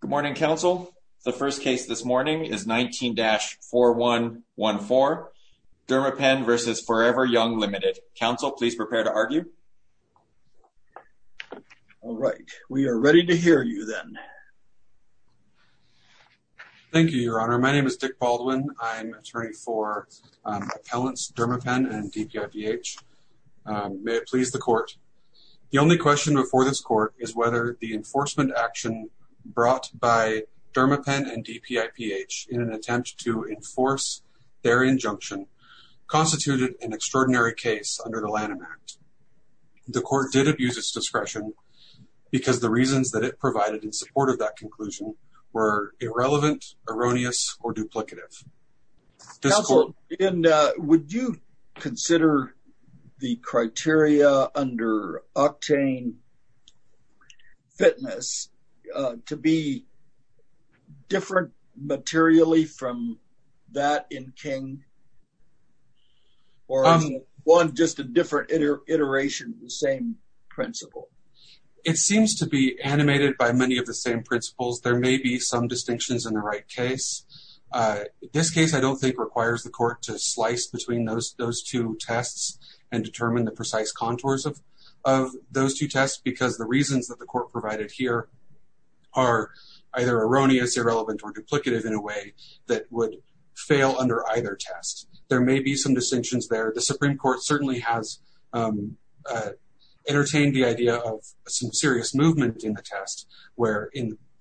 Good morning, counsel. The first case this morning is 19-4114, Derma Pen v. 4EverYoung Limited. Counsel, please prepare to argue. All right. We are ready to hear you then. Thank you, Your Honor. My name is Dick Baldwin. I'm an attorney for appellants Derma Pen and DPIBH. May it please the court. The only question before this court is whether the enforcement action brought by Derma Pen and DPIBH in an attempt to enforce their injunction constituted an extraordinary case under the Lanham Act. The court did abuse its discretion because the reasons that it provided in support of that conclusion were irrelevant, erroneous, or duplicative. Counsel, would you consider the criteria under octane fitness to be different materially from that in King? Or is it just a different iteration of the same principle? It seems to be animated by many of the same principles. There may be some distinctions in the right case. This case I don't think requires the court to slice between those two tests and determine the precise contours of those two tests because the reasons that the court provided here are either erroneous, irrelevant, or duplicative in a way that would fail under either test. There may be some distinctions there. The Supreme Court certainly has entertained the idea of some serious movement in the test where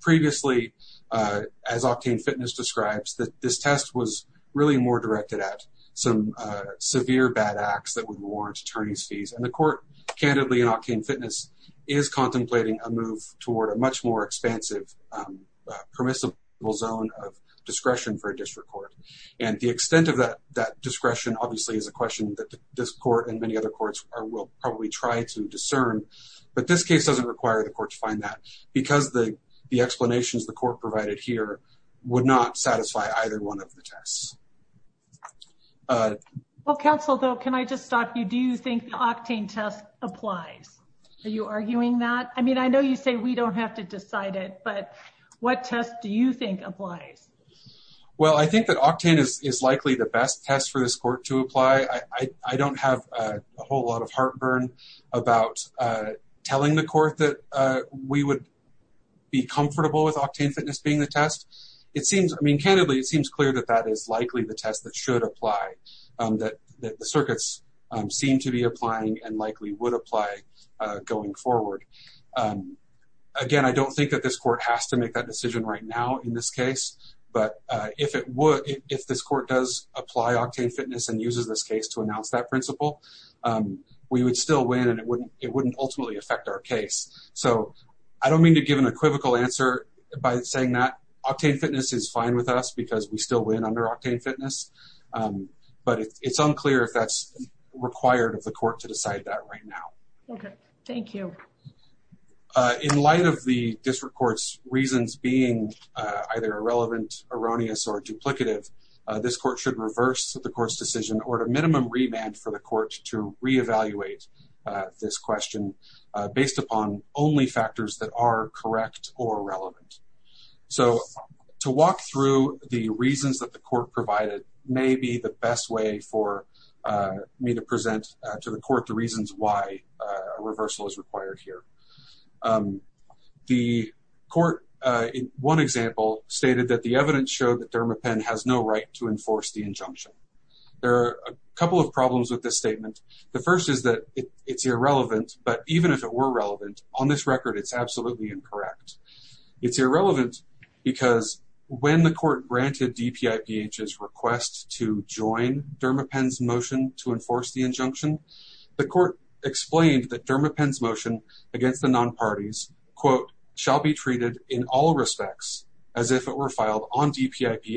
previously, as octane fitness describes, that this test was really more directed at some severe bad acts that would warrant attorney's fees. The court, candidly, in octane fitness, is contemplating a move toward a much more expansive permissible zone of discretion for a district court. The extent of that discretion obviously is a question that this court and many other courts will probably try to discern, but this case doesn't require the court to find that because the explanations the court provided here would not satisfy either one of the tests. Counsel, can I just stop you? Do you think the octane test applies? Are you arguing that? I know you say we don't have to decide it, but what test do you think applies? I think that octane is likely the best test for this court to apply. I don't have a whole lot of comfort with octane fitness being the test. Candidly, it seems clear that that is likely the test that should apply, that the circuits seem to be applying and likely would apply going forward. Again, I don't think that this court has to make that decision right now in this case, but if this court does apply octane fitness and uses this case to announce that principle, we would still win and it wouldn't ultimately affect our case. I don't mean to give an equivocal answer by saying that octane fitness is fine with us because we still win under octane fitness, but it's unclear if that's required of the court to decide that right now. Okay, thank you. In light of the district court's reasons being either irrelevant, erroneous, or duplicative, this court should reverse the court's decision or to minimum remand for the court to re-evaluate this question based upon only factors that are correct or relevant. So, to walk through the reasons that the court provided may be the best way for me to present to the court the reasons why a reversal is required here. The court, in one example, stated that the evidence showed that Dermapen has no right to enforce the injunction. There are a couple of problems with this statement. The first is that it's irrelevant, but even if it were relevant, on this record, it's absolutely incorrect. It's irrelevant because when the court granted DPIPH's request to join Dermapen's motion to enforce the injunction, the court explained that Dermapen's motion against the non-parties, quote, shall be treated in all respects as if it were filed on record.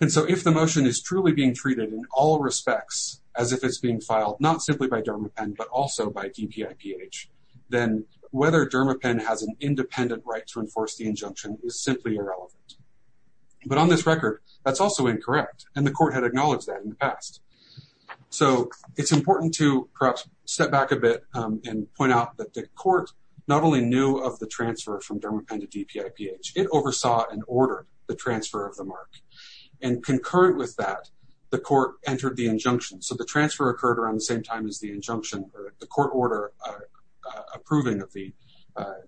And so, if the motion is truly being treated in all respects as if it's being filed, not simply by Dermapen, but also by DPIPH, then whether Dermapen has an independent right to enforce the injunction is simply irrelevant. But on this record, that's also incorrect, and the court had acknowledged that in the past. So, it's important to perhaps step back a bit and point out that the court not only knew of the transfer from Dermapen to DPIPH, it oversaw and ordered the transfer of the mark. And concurrent with that, the court entered the injunction. So, the transfer occurred around the same time as the injunction or the court order approving of the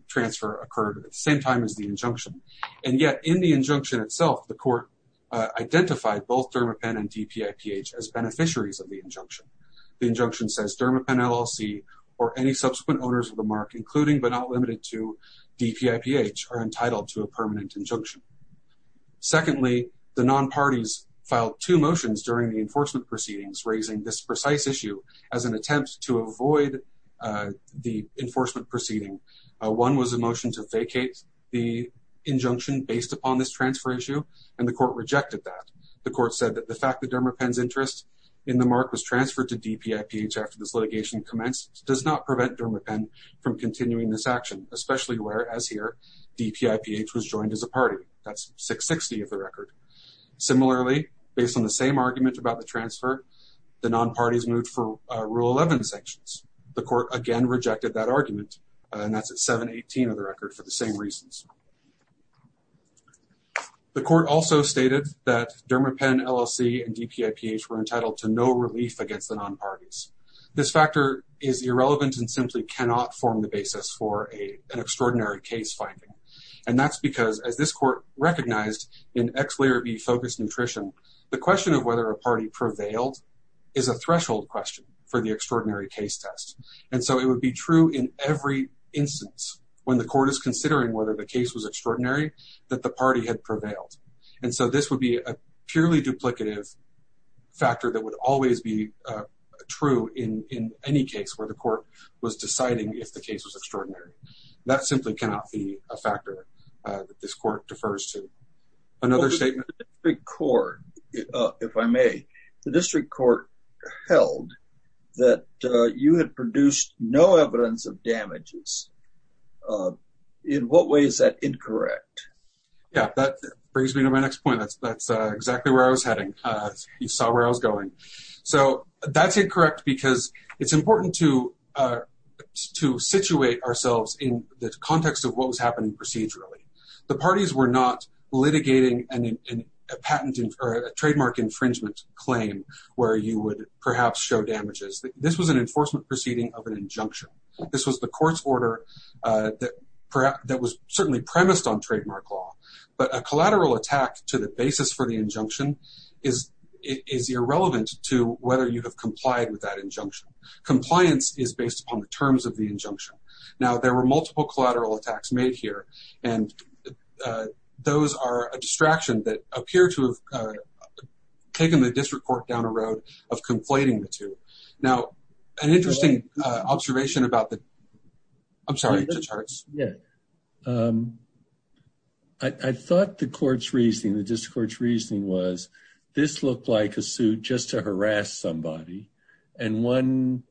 transfer occurred at the same time as the injunction. And yet, in the injunction itself, the court identified both Dermapen and DPIPH as beneficiaries of the injunction. The injunction says Dermapen LLC or any subsequent owners of the mark, including but not limited to a permanent injunction. Secondly, the non-parties filed two motions during the enforcement proceedings raising this precise issue as an attempt to avoid the enforcement proceeding. One was a motion to vacate the injunction based upon this transfer issue, and the court rejected that. The court said that the fact that Dermapen's interest in the mark was transferred to DPIPH after this litigation commenced does not prevent Dermapen from continuing this action, especially where, as here, DPIPH was joined as a party. That's 660 of the record. Similarly, based on the same argument about the transfer, the non-parties moved for Rule 11 sanctions. The court again rejected that argument, and that's at 718 of the record for the same reasons. The court also stated that Dermapen LLC and DPIPH were entitled to no relief against the non-parties. This factor is irrelevant and cannot form the basis for an extraordinary case finding. That's because, as this court recognized in X layer B focused nutrition, the question of whether a party prevailed is a threshold question for the extraordinary case test. It would be true in every instance when the court is considering whether the case was extraordinary that the party had prevailed. This would be a purely duplicative factor that would always be true in any case where the court was deciding if the case was extraordinary. That simply cannot be a factor that this court defers to. Another statement... The district court, if I may, the district court held that you had produced no evidence of damages. In what way is that incorrect? Yeah, that brings me to my next point. That's exactly where I was heading. You saw where I was going. That's incorrect because it's important to situate ourselves in the context of what was happening procedurally. The parties were not litigating a trademark infringement claim where you would perhaps show damages. This was an enforcement proceeding of an injunction. This was the court's order that was certainly premised on trademark law. A collateral attack to the basis for the injunction is irrelevant to whether you have complied with that injunction. Compliance is based upon the terms of the injunction. There were multiple collateral attacks made here. Those are a distraction that appear to have taken the district court down a road of conflating the I'm sorry. Yeah. I thought the court's reasoning, the district court's reasoning was this looked like a suit just to harass somebody. One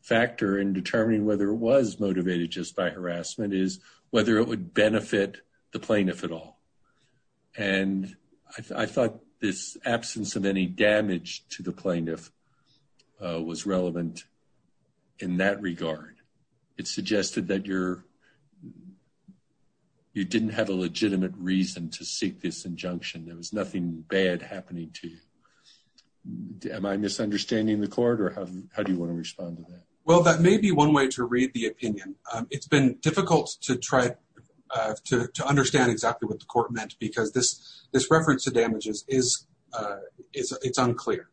factor in determining whether it was motivated just by harassment is whether it would benefit the plaintiff at all. I thought this absence of damage to the plaintiff was relevant in that regard. It suggested that you didn't have a legitimate reason to seek this injunction. There was nothing bad happening to you. Am I misunderstanding the court or how do you want to respond to that? Well, that may be one way to read the opinion. It's been difficult to try to understand exactly what the court meant because this reference to damages is unclear.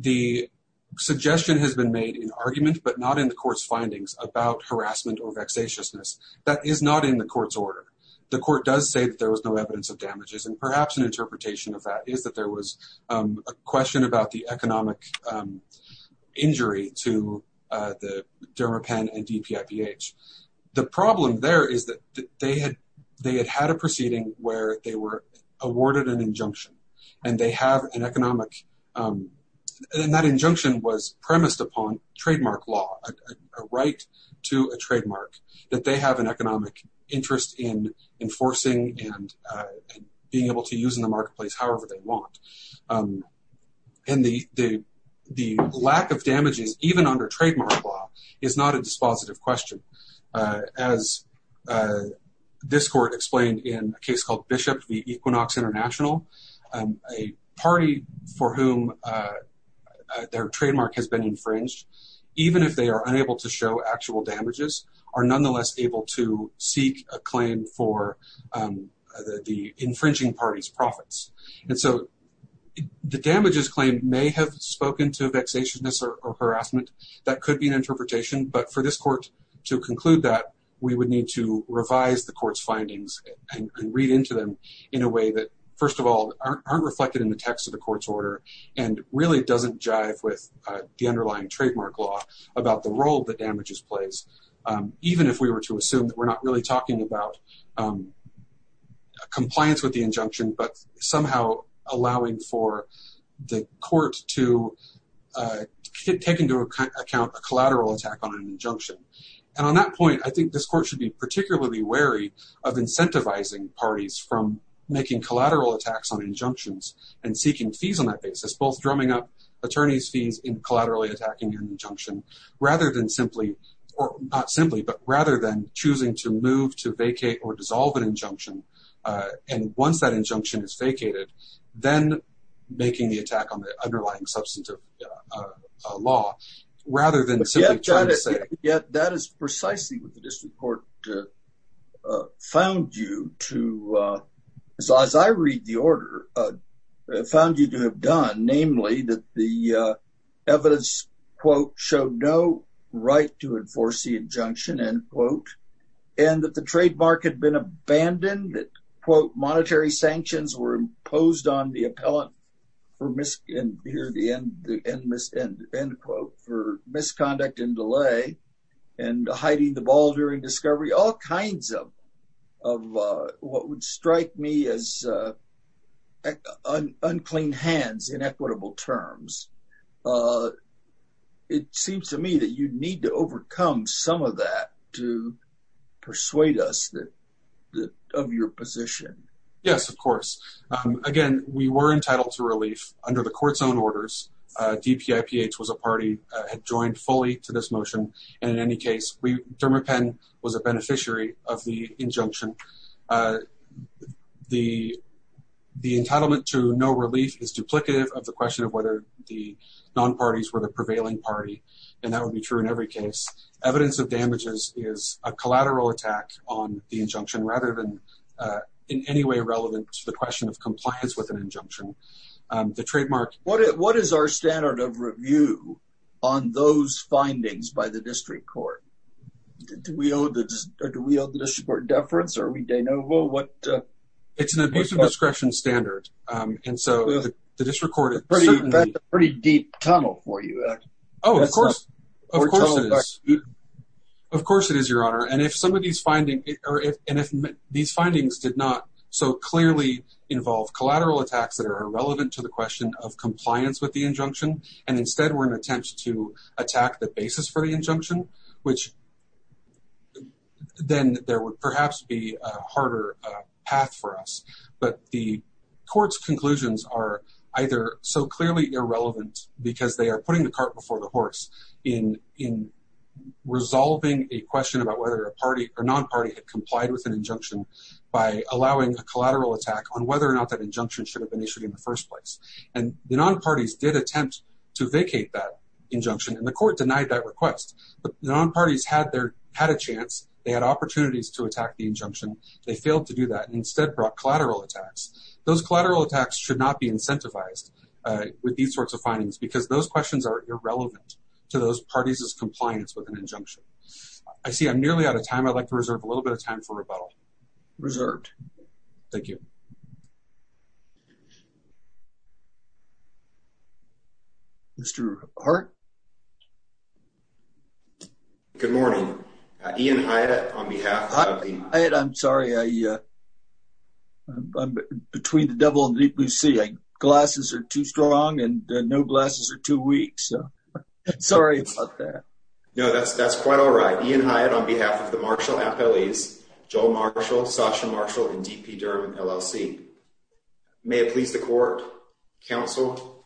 The suggestion has been made in argument but not in the court's findings about harassment or vexatiousness. That is not in the court's order. The court does say that there was no evidence of damages and perhaps an interpretation of that is that there was a question about the economic injury to the where they were awarded an injunction. That injunction was premised upon trademark law, a right to a trademark that they have an economic interest in enforcing and being able to use in the marketplace however they want. The lack of damages even under trademark law is not a positive question. As this court explained in a case called Bishop v. Equinox International, a party for whom their trademark has been infringed, even if they are unable to show actual damages, are nonetheless able to seek a claim for the infringing party's profits. The damages claim may have spoken to vexatiousness or harassment. That could be an interpretation but for this court to conclude that, we would need to revise the court's findings and read into them in a way that, first of all, aren't reflected in the text of the court's order and really doesn't jive with the underlying trademark law about the role that damages plays, even if we were to assume that we're not really talking about compliance with the injunction but somehow allowing for the court to take into account a collateral attack on an injunction. And on that point, I think this court should be particularly wary of incentivizing parties from making collateral attacks on injunctions and seeking fees on that basis, both drumming up attorneys' fees in collaterally attacking an injunction rather than choosing to move, to vacate or dissolve an injunction. And once that injunction is vacated, then making the attack on the underlying substantive law rather than simply trying to say... Yet that is precisely what the district court found you to, as I read the order, found you to have done, namely that the evidence, quote, showed no right to enforce the injunction, end quote, and that the trademark had been abandoned, that, quote, monetary sanctions were imposed on the appellant for misconduct and delay and hiding the ball during discovery, all kinds of what would strike me as unclean hands in equitable terms. It seems to me that you need to overcome some of that to persuade us of your position. Yes, of course. Again, we were entitled to relief under the court's own orders. DPIPH was a party that joined fully to this motion. And in any case, Dermapen was a beneficiary of the injunction. The entitlement to no relief is duplicative of the question of whether the non-parties were the prevailing party. And that would be true in every case. Evidence of damages is a collateral attack on the injunction rather than in any way relevant to the question of compliance with an injunction. The trademark... What is our standard of review on those findings by the district court? Do we owe the district court deference? Are we de novo? What... It's an abuse of discretion standard. And so the district court... That's a pretty deep tunnel for you, Ed. Oh, of course. Of course it is, Your Honor. And if these findings did not so clearly involve collateral attacks that are irrelevant to the question of compliance with the injunction, and instead were an attempt to attack the basis for the injunction, which then there would perhaps be a harder path for us. But the court's conclusions are either so clearly irrelevant because they are putting the cart before the horse in resolving a question about whether a party or non-party had complied with an injunction by allowing a collateral attack on whether or not that injunction should have been issued in the first place. And the non-parties did attempt to vacate that injunction, and the court denied that request. But the non-parties had a chance. They had opportunities to attack the injunction. They failed to do that and instead brought collateral attacks. Those collateral attacks should not be incentivized with these sorts of findings because those questions are irrelevant to those parties' compliance with an injunction. I see I'm nearly out of time. I'd like to reserve a little bit of time for rebuttal. Reserved. Thank you. Mr. Hart? Good morning. Ian Hyatt on behalf of the- Hyatt, I'm sorry. I'm between the devil and the deep blue sea. Glasses are too strong, and no glasses are too weak, so sorry about that. No, that's quite all right. Ian Hyatt on behalf of the Marshall FLEs, Joel Marshall, Sasha Marshall, and D.P. Durham, LLC. May it please the court, counsel,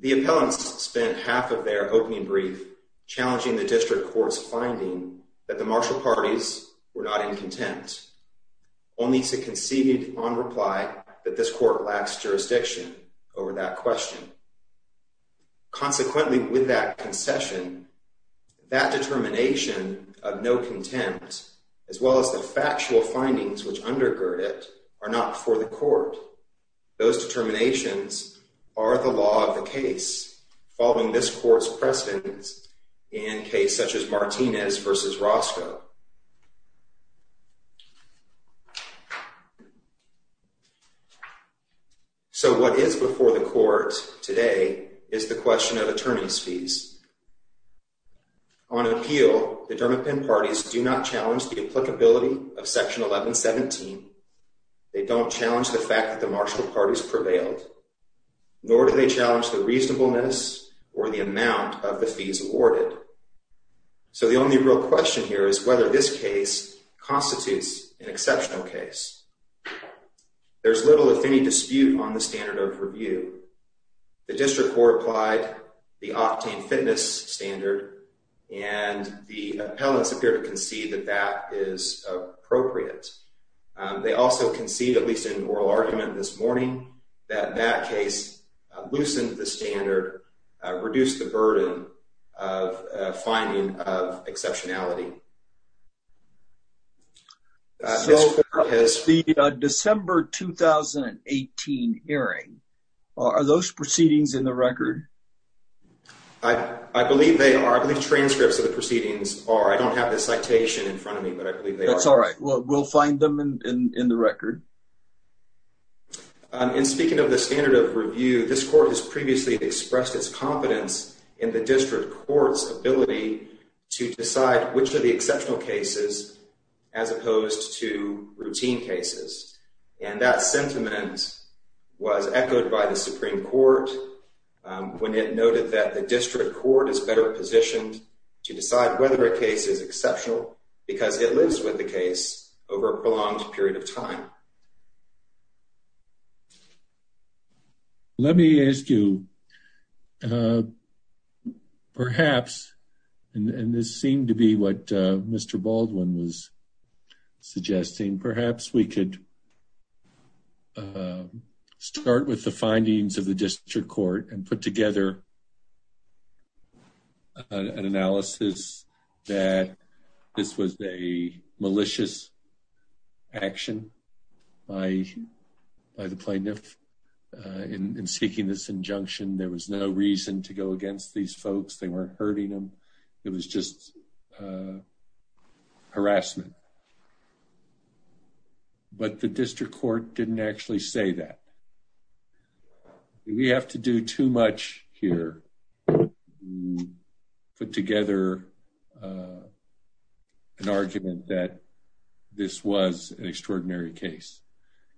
the appellants spent half of their opening brief challenging the district court's finding that the Marshall parties were not in contempt, only to concede on reply that this court lacks jurisdiction over that question. Consequently, with that concession, that determination of no contempt, as well as the factual findings which undergird it, are not before the court. Those determinations are the law of the case, following this court's precedence in cases such as Martinez v. Roscoe. So, what is before the court today is the question of attorney's fees. On appeal, the Durham-Penn parties do not challenge the applicability of Section 1117. They don't challenge the fact that the Marshall parties prevailed, nor do they challenge the reasonableness or the amount of the fees awarded. So, the only real question here is whether this case constitutes an exceptional case. There's little, if any, dispute on the standard of review. The district court applied the octane fitness standard, and the appellants appear to concede that that is appropriate. They also concede, at least in oral argument this morning, that that case loosened the standard, reduced the burden of finding of exceptionality. So, the December 2018 hearing, are those proceedings in the record? I believe they are. I believe transcripts of the proceedings are. I don't have the citation in front of me, but I believe they are. That's all right. We'll find them in the record. And speaking of the standard of review, this court has previously expressed its confidence in the district court's ability to decide which of the exceptional cases, as opposed to routine cases. And that sentiment was echoed by the Supreme Court when it noted that the district court is better positioned to decide whether a case is exceptional because it lives with the case over a prolonged period of time. Let me ask you, perhaps, and this seemed to be what Mr. Baldwin was suggesting, perhaps we could start with the findings of the district court and put together an analysis that this was a by the plaintiff in seeking this injunction. There was no reason to go against these folks. They weren't hurting them. It was just harassment. But the district court didn't actually say that. We have to do too much here to put together an argument that this was an extraordinary case.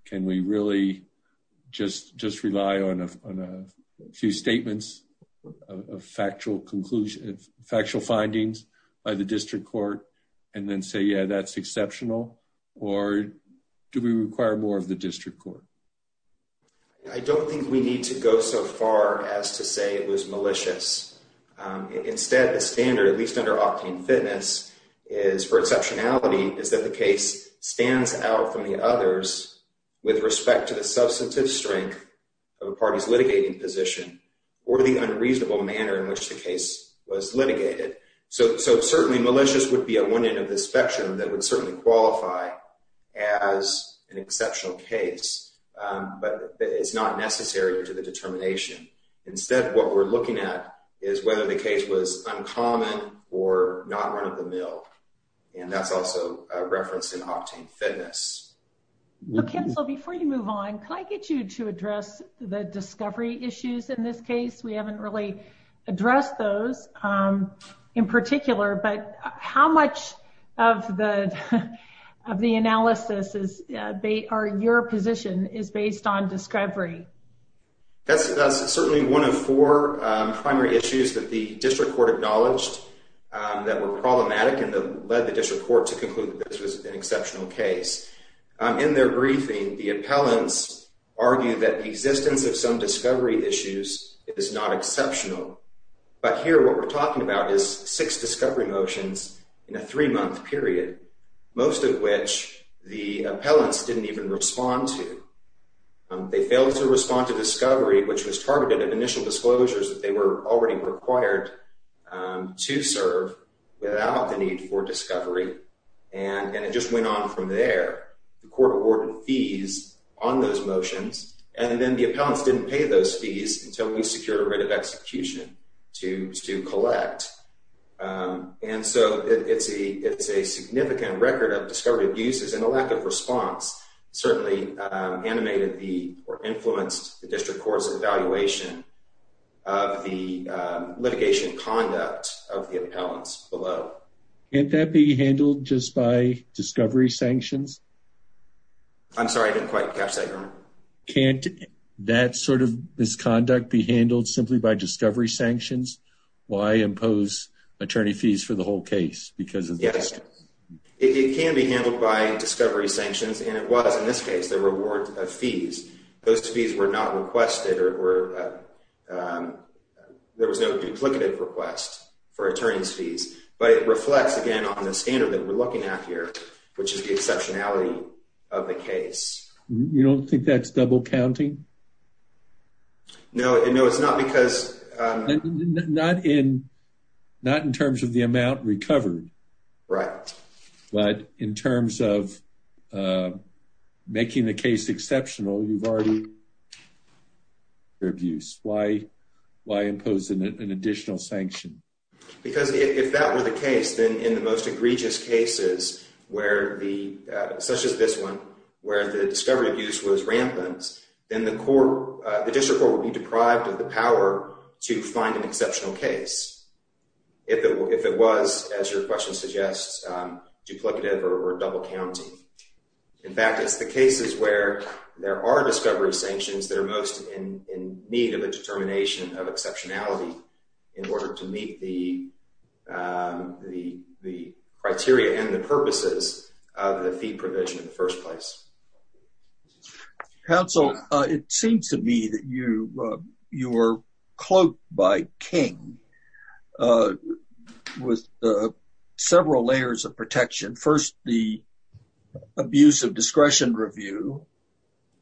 Can we really just rely on a few statements of factual findings by the district court and then say, yeah, that's exceptional? Or do we require more of the district court? I don't think we need to go so far as to say it was malicious. Instead, the standard, at least under Octane Fitness, is for exceptionality is that the case stands out from the others with respect to the substantive strength of a party's litigating position or the unreasonable manner in which the case was litigated. So certainly malicious would be at one end of the spectrum that would certainly qualify as an exceptional case. But it's not necessary to the determination. Instead, what we're looking at is whether the case was uncommon or not run-of-the-mill. And that's also a reference in Octane Fitness. Before you move on, can I get you to address the discovery issues in this case? We haven't really is based on discovery. That's certainly one of four primary issues that the district court acknowledged that were problematic and led the district court to conclude that this was an exceptional case. In their briefing, the appellants argue that the existence of some discovery issues is not exceptional. But here, what we're talking about is six discovery motions in a three-month period, most of which the appellants didn't even respond to. They failed to respond to discovery, which was targeted at initial disclosures that they were already required to serve without the need for discovery. And it just went on from there. The court awarded fees on those motions, and then the appellants didn't pay those fees until we secured a writ of execution to collect. And so it's a significant record of discovery abuses, and the lack of response certainly animated or influenced the district court's evaluation of the litigation conduct of the appellants below. Can't that be handled just by discovery sanctions? I'm sorry, I didn't quite catch that. Can't that sort of misconduct be handled simply by discovery sanctions? Why impose attorney fees for the whole case because of this? Yes, it can be handled by discovery sanctions, and it was in this case the reward of fees. Those fees were not requested or there was no duplicative request for attorney's fees. But it reflects, again, on the standard that we're looking at here, which is the exceptionality of the case. You don't think that's double counting? No, it's not because... Not in terms of the amount recovered. Right. But in terms of making the case exceptional, you've already... abuse. Why impose an additional sanction? Because if that were the case, then in the most egregious cases, such as this one, where the discovery abuse was rampant, then the district court would be deprived of the power to find an exceptional case, if it was, as your question suggests, duplicative or double counting. In fact, it's the cases where there are discovery sanctions that are most in need of a determination of exceptionality in order to meet the criteria and the purposes of the fee provision in the first place. Counsel, it seems to me that you were cloaked by King with several layers of protection. First, the abuse of discretion review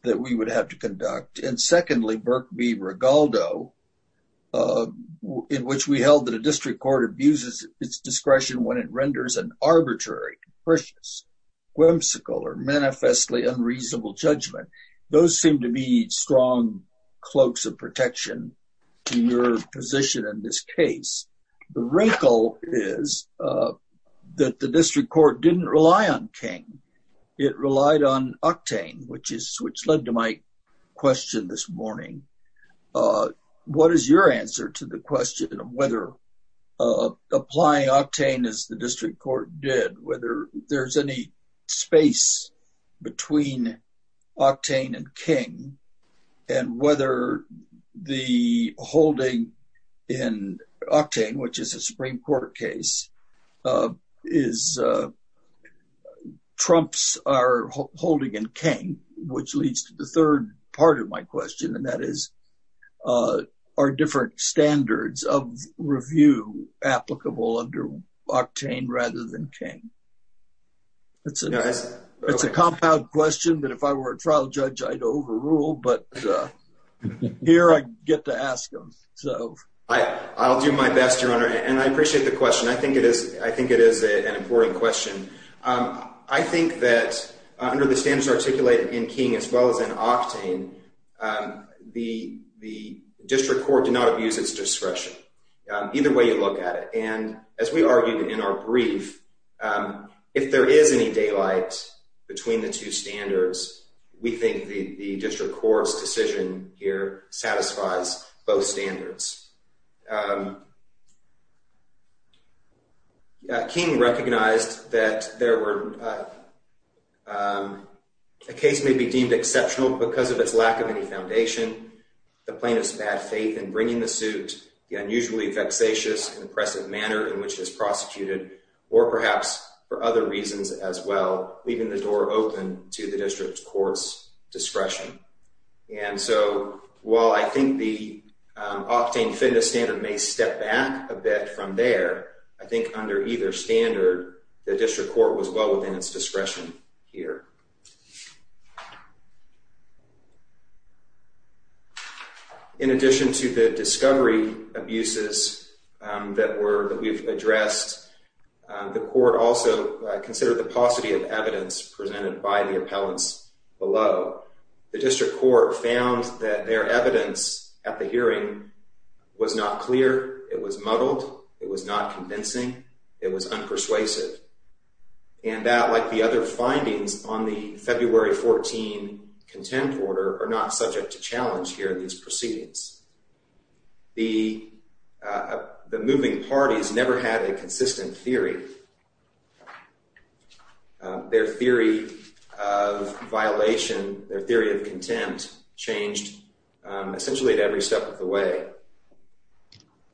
that we would have to conduct. And secondly, Burke v. Rigaldo, in which we held that a district court abuses its discretion when it renders an arbitrary, precious, whimsical, or manifestly unreasonable judgment. Those seem to be strong cloaks of protection to your position in this case. The wrinkle is that the district court didn't rely on King. It relied on Octane, which led to my question this morning. What is your answer to the question of whether applying Octane as the district court did, whether there's any space between Octane and King, and whether the holding in Octane, which is a Supreme Court case, trumps our holding in King, which leads to the third part of my question, and that is, are different standards of review applicable under Octane rather than King? It's a compound question that if I were a trial judge, I'd overrule, but here I get to ask them. I'll do my best, Your Honor, and I appreciate the question. I think it is an important question. I think that under the standards articulated in King as well as in Octane, the district court did not abuse its discretion, either way you look at it. And as we argued in our brief, if there is any daylight between the two standards, we think the district court's decision here satisfies both standards. King recognized that a case may be deemed exceptional because of its lack of any foundation. The plaintiff's bad faith in bringing the suit, the unusually vexatious and oppressive manner in which it's prosecuted, or perhaps for other reasons as well, leaving the door open to the district court's discretion. And so while I think the Octane Finda standard may step back a bit from there, I think under either standard, the district court was well within its discretion here. In addition to the discovery abuses that we've addressed, the court also considered the paucity of evidence presented by the appellants below. The district court found that their evidence at the hearing was not clear. It was muddled. It was not convincing. It was unpersuasive. And that, like the other findings on the February 14 contempt order, are not subject to challenge here in these proceedings. The moving parties never had a consistent theory. Their theory of violation, their theory of contempt, changed essentially at every step of the way.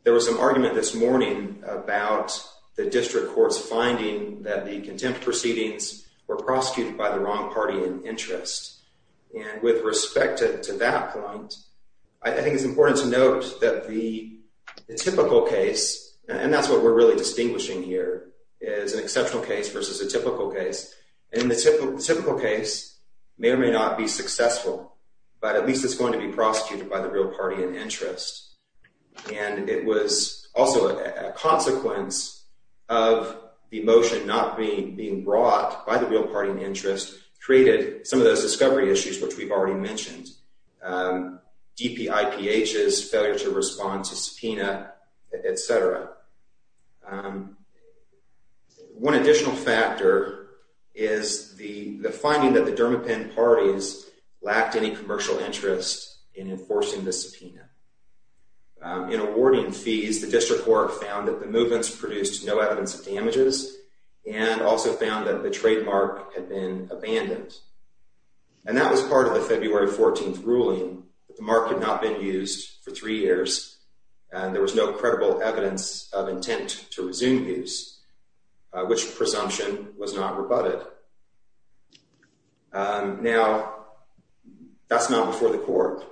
There was some argument this morning about the district court's finding that the contempt proceedings were prosecuted by the wrong party in interest. And with respect to that point, I think it's important to note that the typical case, and that's what we're really distinguishing here, is an exceptional case versus a typical case. And the typical case may or may not be successful, but at least it's going to be prosecuted by the real party in interest. And it was also a consequence of the motion not being brought by the real party in interest created some of those discovery issues, which we've already mentioned. DPIPHs, failure to respond to subpoena, et cetera. One additional factor is the finding that the DERMAPEN parties lacked any commercial interest in enforcing the subpoena. In awarding fees, the district court found that the movements produced no evidence of damages and also found that the trademark had been abandoned. And that was part of the February 14 ruling. The mark had not been used for three years, and there was no evidence of intent to resume use, which presumption was not rebutted. Now, that's not before the court.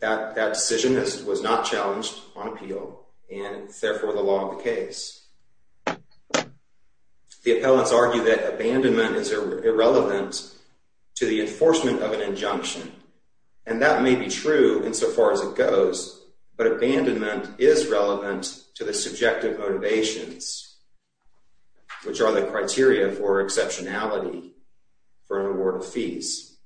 That decision was not challenged on appeal, and it's therefore the law of the case. The appellants argue that abandonment is irrelevant to the enforcement of an injunction. And that may be true insofar as it goes, but abandonment is relevant to the subjective motivations, which are the criteria for exceptionality for an award of fees.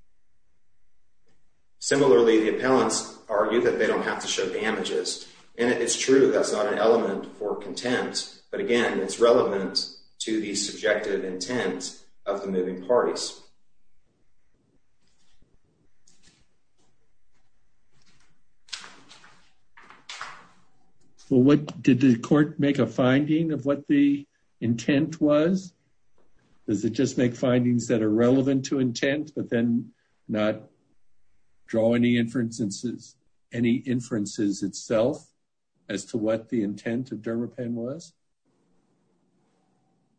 Similarly, the appellants argue that they don't have to show damages. And it's true, that's not an element for contempt. But again, it's relevant to the subjective intent of the moving parties. Well, did the court make a finding of what the intent was? Does it just make findings that are relevant to intent, but then not draw any inferences itself as to what the intent of Dermapen was?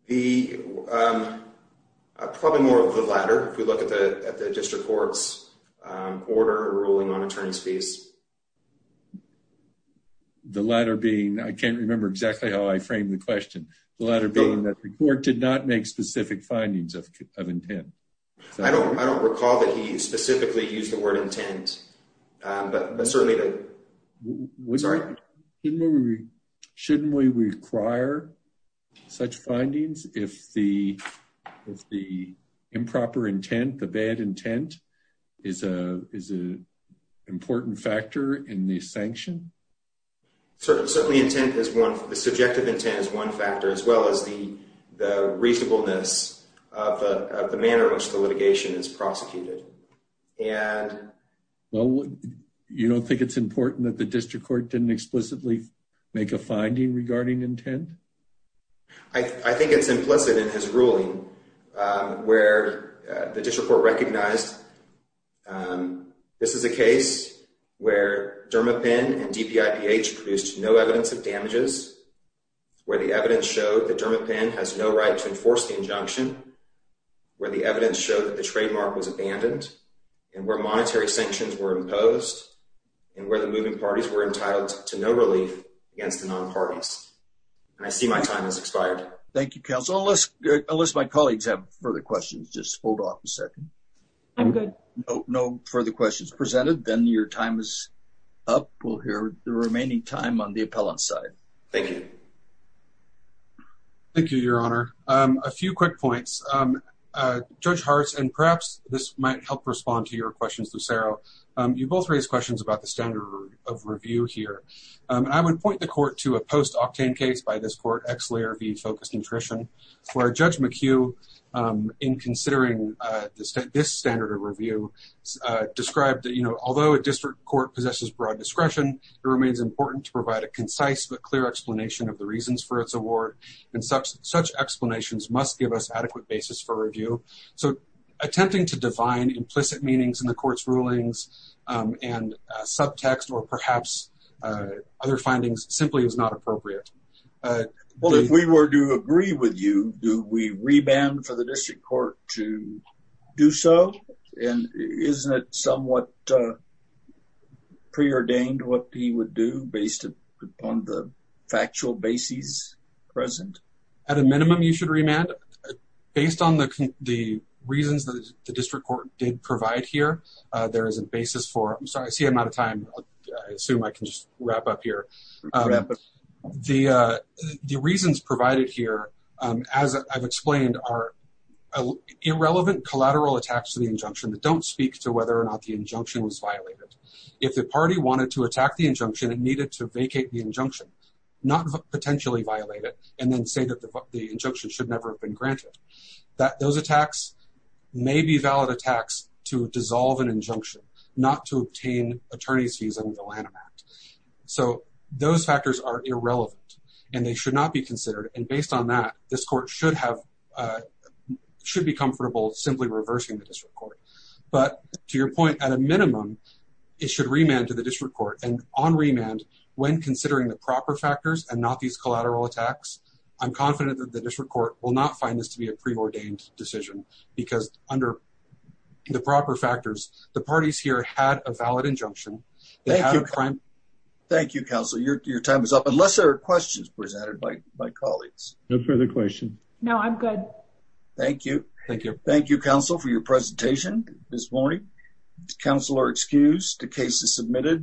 Probably more of the latter, if we look at the district court's order ruling on attorney's fees. The latter being, I can't remember exactly how I framed the question. The latter being that the court did not make specific findings of intent. I don't recall that he specifically used the word intent, but certainly- Shouldn't we require such findings if the improper intent, the bad intent is an important factor in the sanction? Certainly, the subjective intent is one factor, as well as the reasonableness of the manner in which the litigation is prosecuted. And- Well, you don't think it's important that the district court didn't explicitly make a finding regarding intent? I think it's implicit in his ruling, where the district court recognized, this is a case where Dermapen and DPIPH produced no evidence of damages, where the evidence showed that Dermapen has no right to enforce the injunction, where the evidence showed that the trademark was abandoned, and where monetary sanctions were imposed, and where the moving parties were entitled to no relief against the non-parties. And I see my time has expired. Thank you, counsel. Unless my colleagues have further questions, just hold off a second. I'm good. No further questions presented, then your time is up. We'll hear the remaining time on the appellant side. Thank you. Thank you, Your Honor. A few quick points. Judge Hartz, and perhaps this might help respond to your questions, Lucero. You both raised questions about the standard of review here. I would point the court to a post-Octane case by this court, X-Layer v. Focused Nutrition, where Judge McHugh, in considering this standard of review, described that, you know, although a district court possesses broad discretion, it remains important to provide a concise but clear explanation about the reasons for its award, and such explanations must give us adequate basis for review. So, attempting to define implicit meanings in the court's rulings and subtext, or perhaps other findings, simply is not appropriate. Well, if we were to agree with you, do we re-band for the district court to do so? And isn't it somewhat preordained what he would do on the factual basis present? At a minimum, you should re-band. Based on the reasons that the district court did provide here, there is a basis for it. I'm sorry, I see I'm out of time. I assume I can just wrap up here. The reasons provided here, as I've explained, are irrelevant collateral attacks to the injunction that don't speak to whether or not the injunction was violated. If the party wanted to attack the injunction and needed to vacate the injunction, not potentially violate it, and then say that the injunction should never have been granted, that those attacks may be valid attacks to dissolve an injunction, not to obtain attorney's fees under the Lanham Act. So, those factors are irrelevant, and they should not be considered, and based on that, this court should be comfortable simply reversing the district court. But to your point, at a minimum, it should re-band to the district court, and on re-band, when considering the proper factors and not these collateral attacks, I'm confident that the district court will not find this to be a preordained decision, because under the proper factors, the parties here had a valid injunction. Thank you. Thank you, counsel. Your time is up, unless there are questions presented by my colleagues. No further questions. No, I'm good. Thank you. Thank you. Thank you, counsel, for your presentation this morning. Counselor excused. The case is submitted.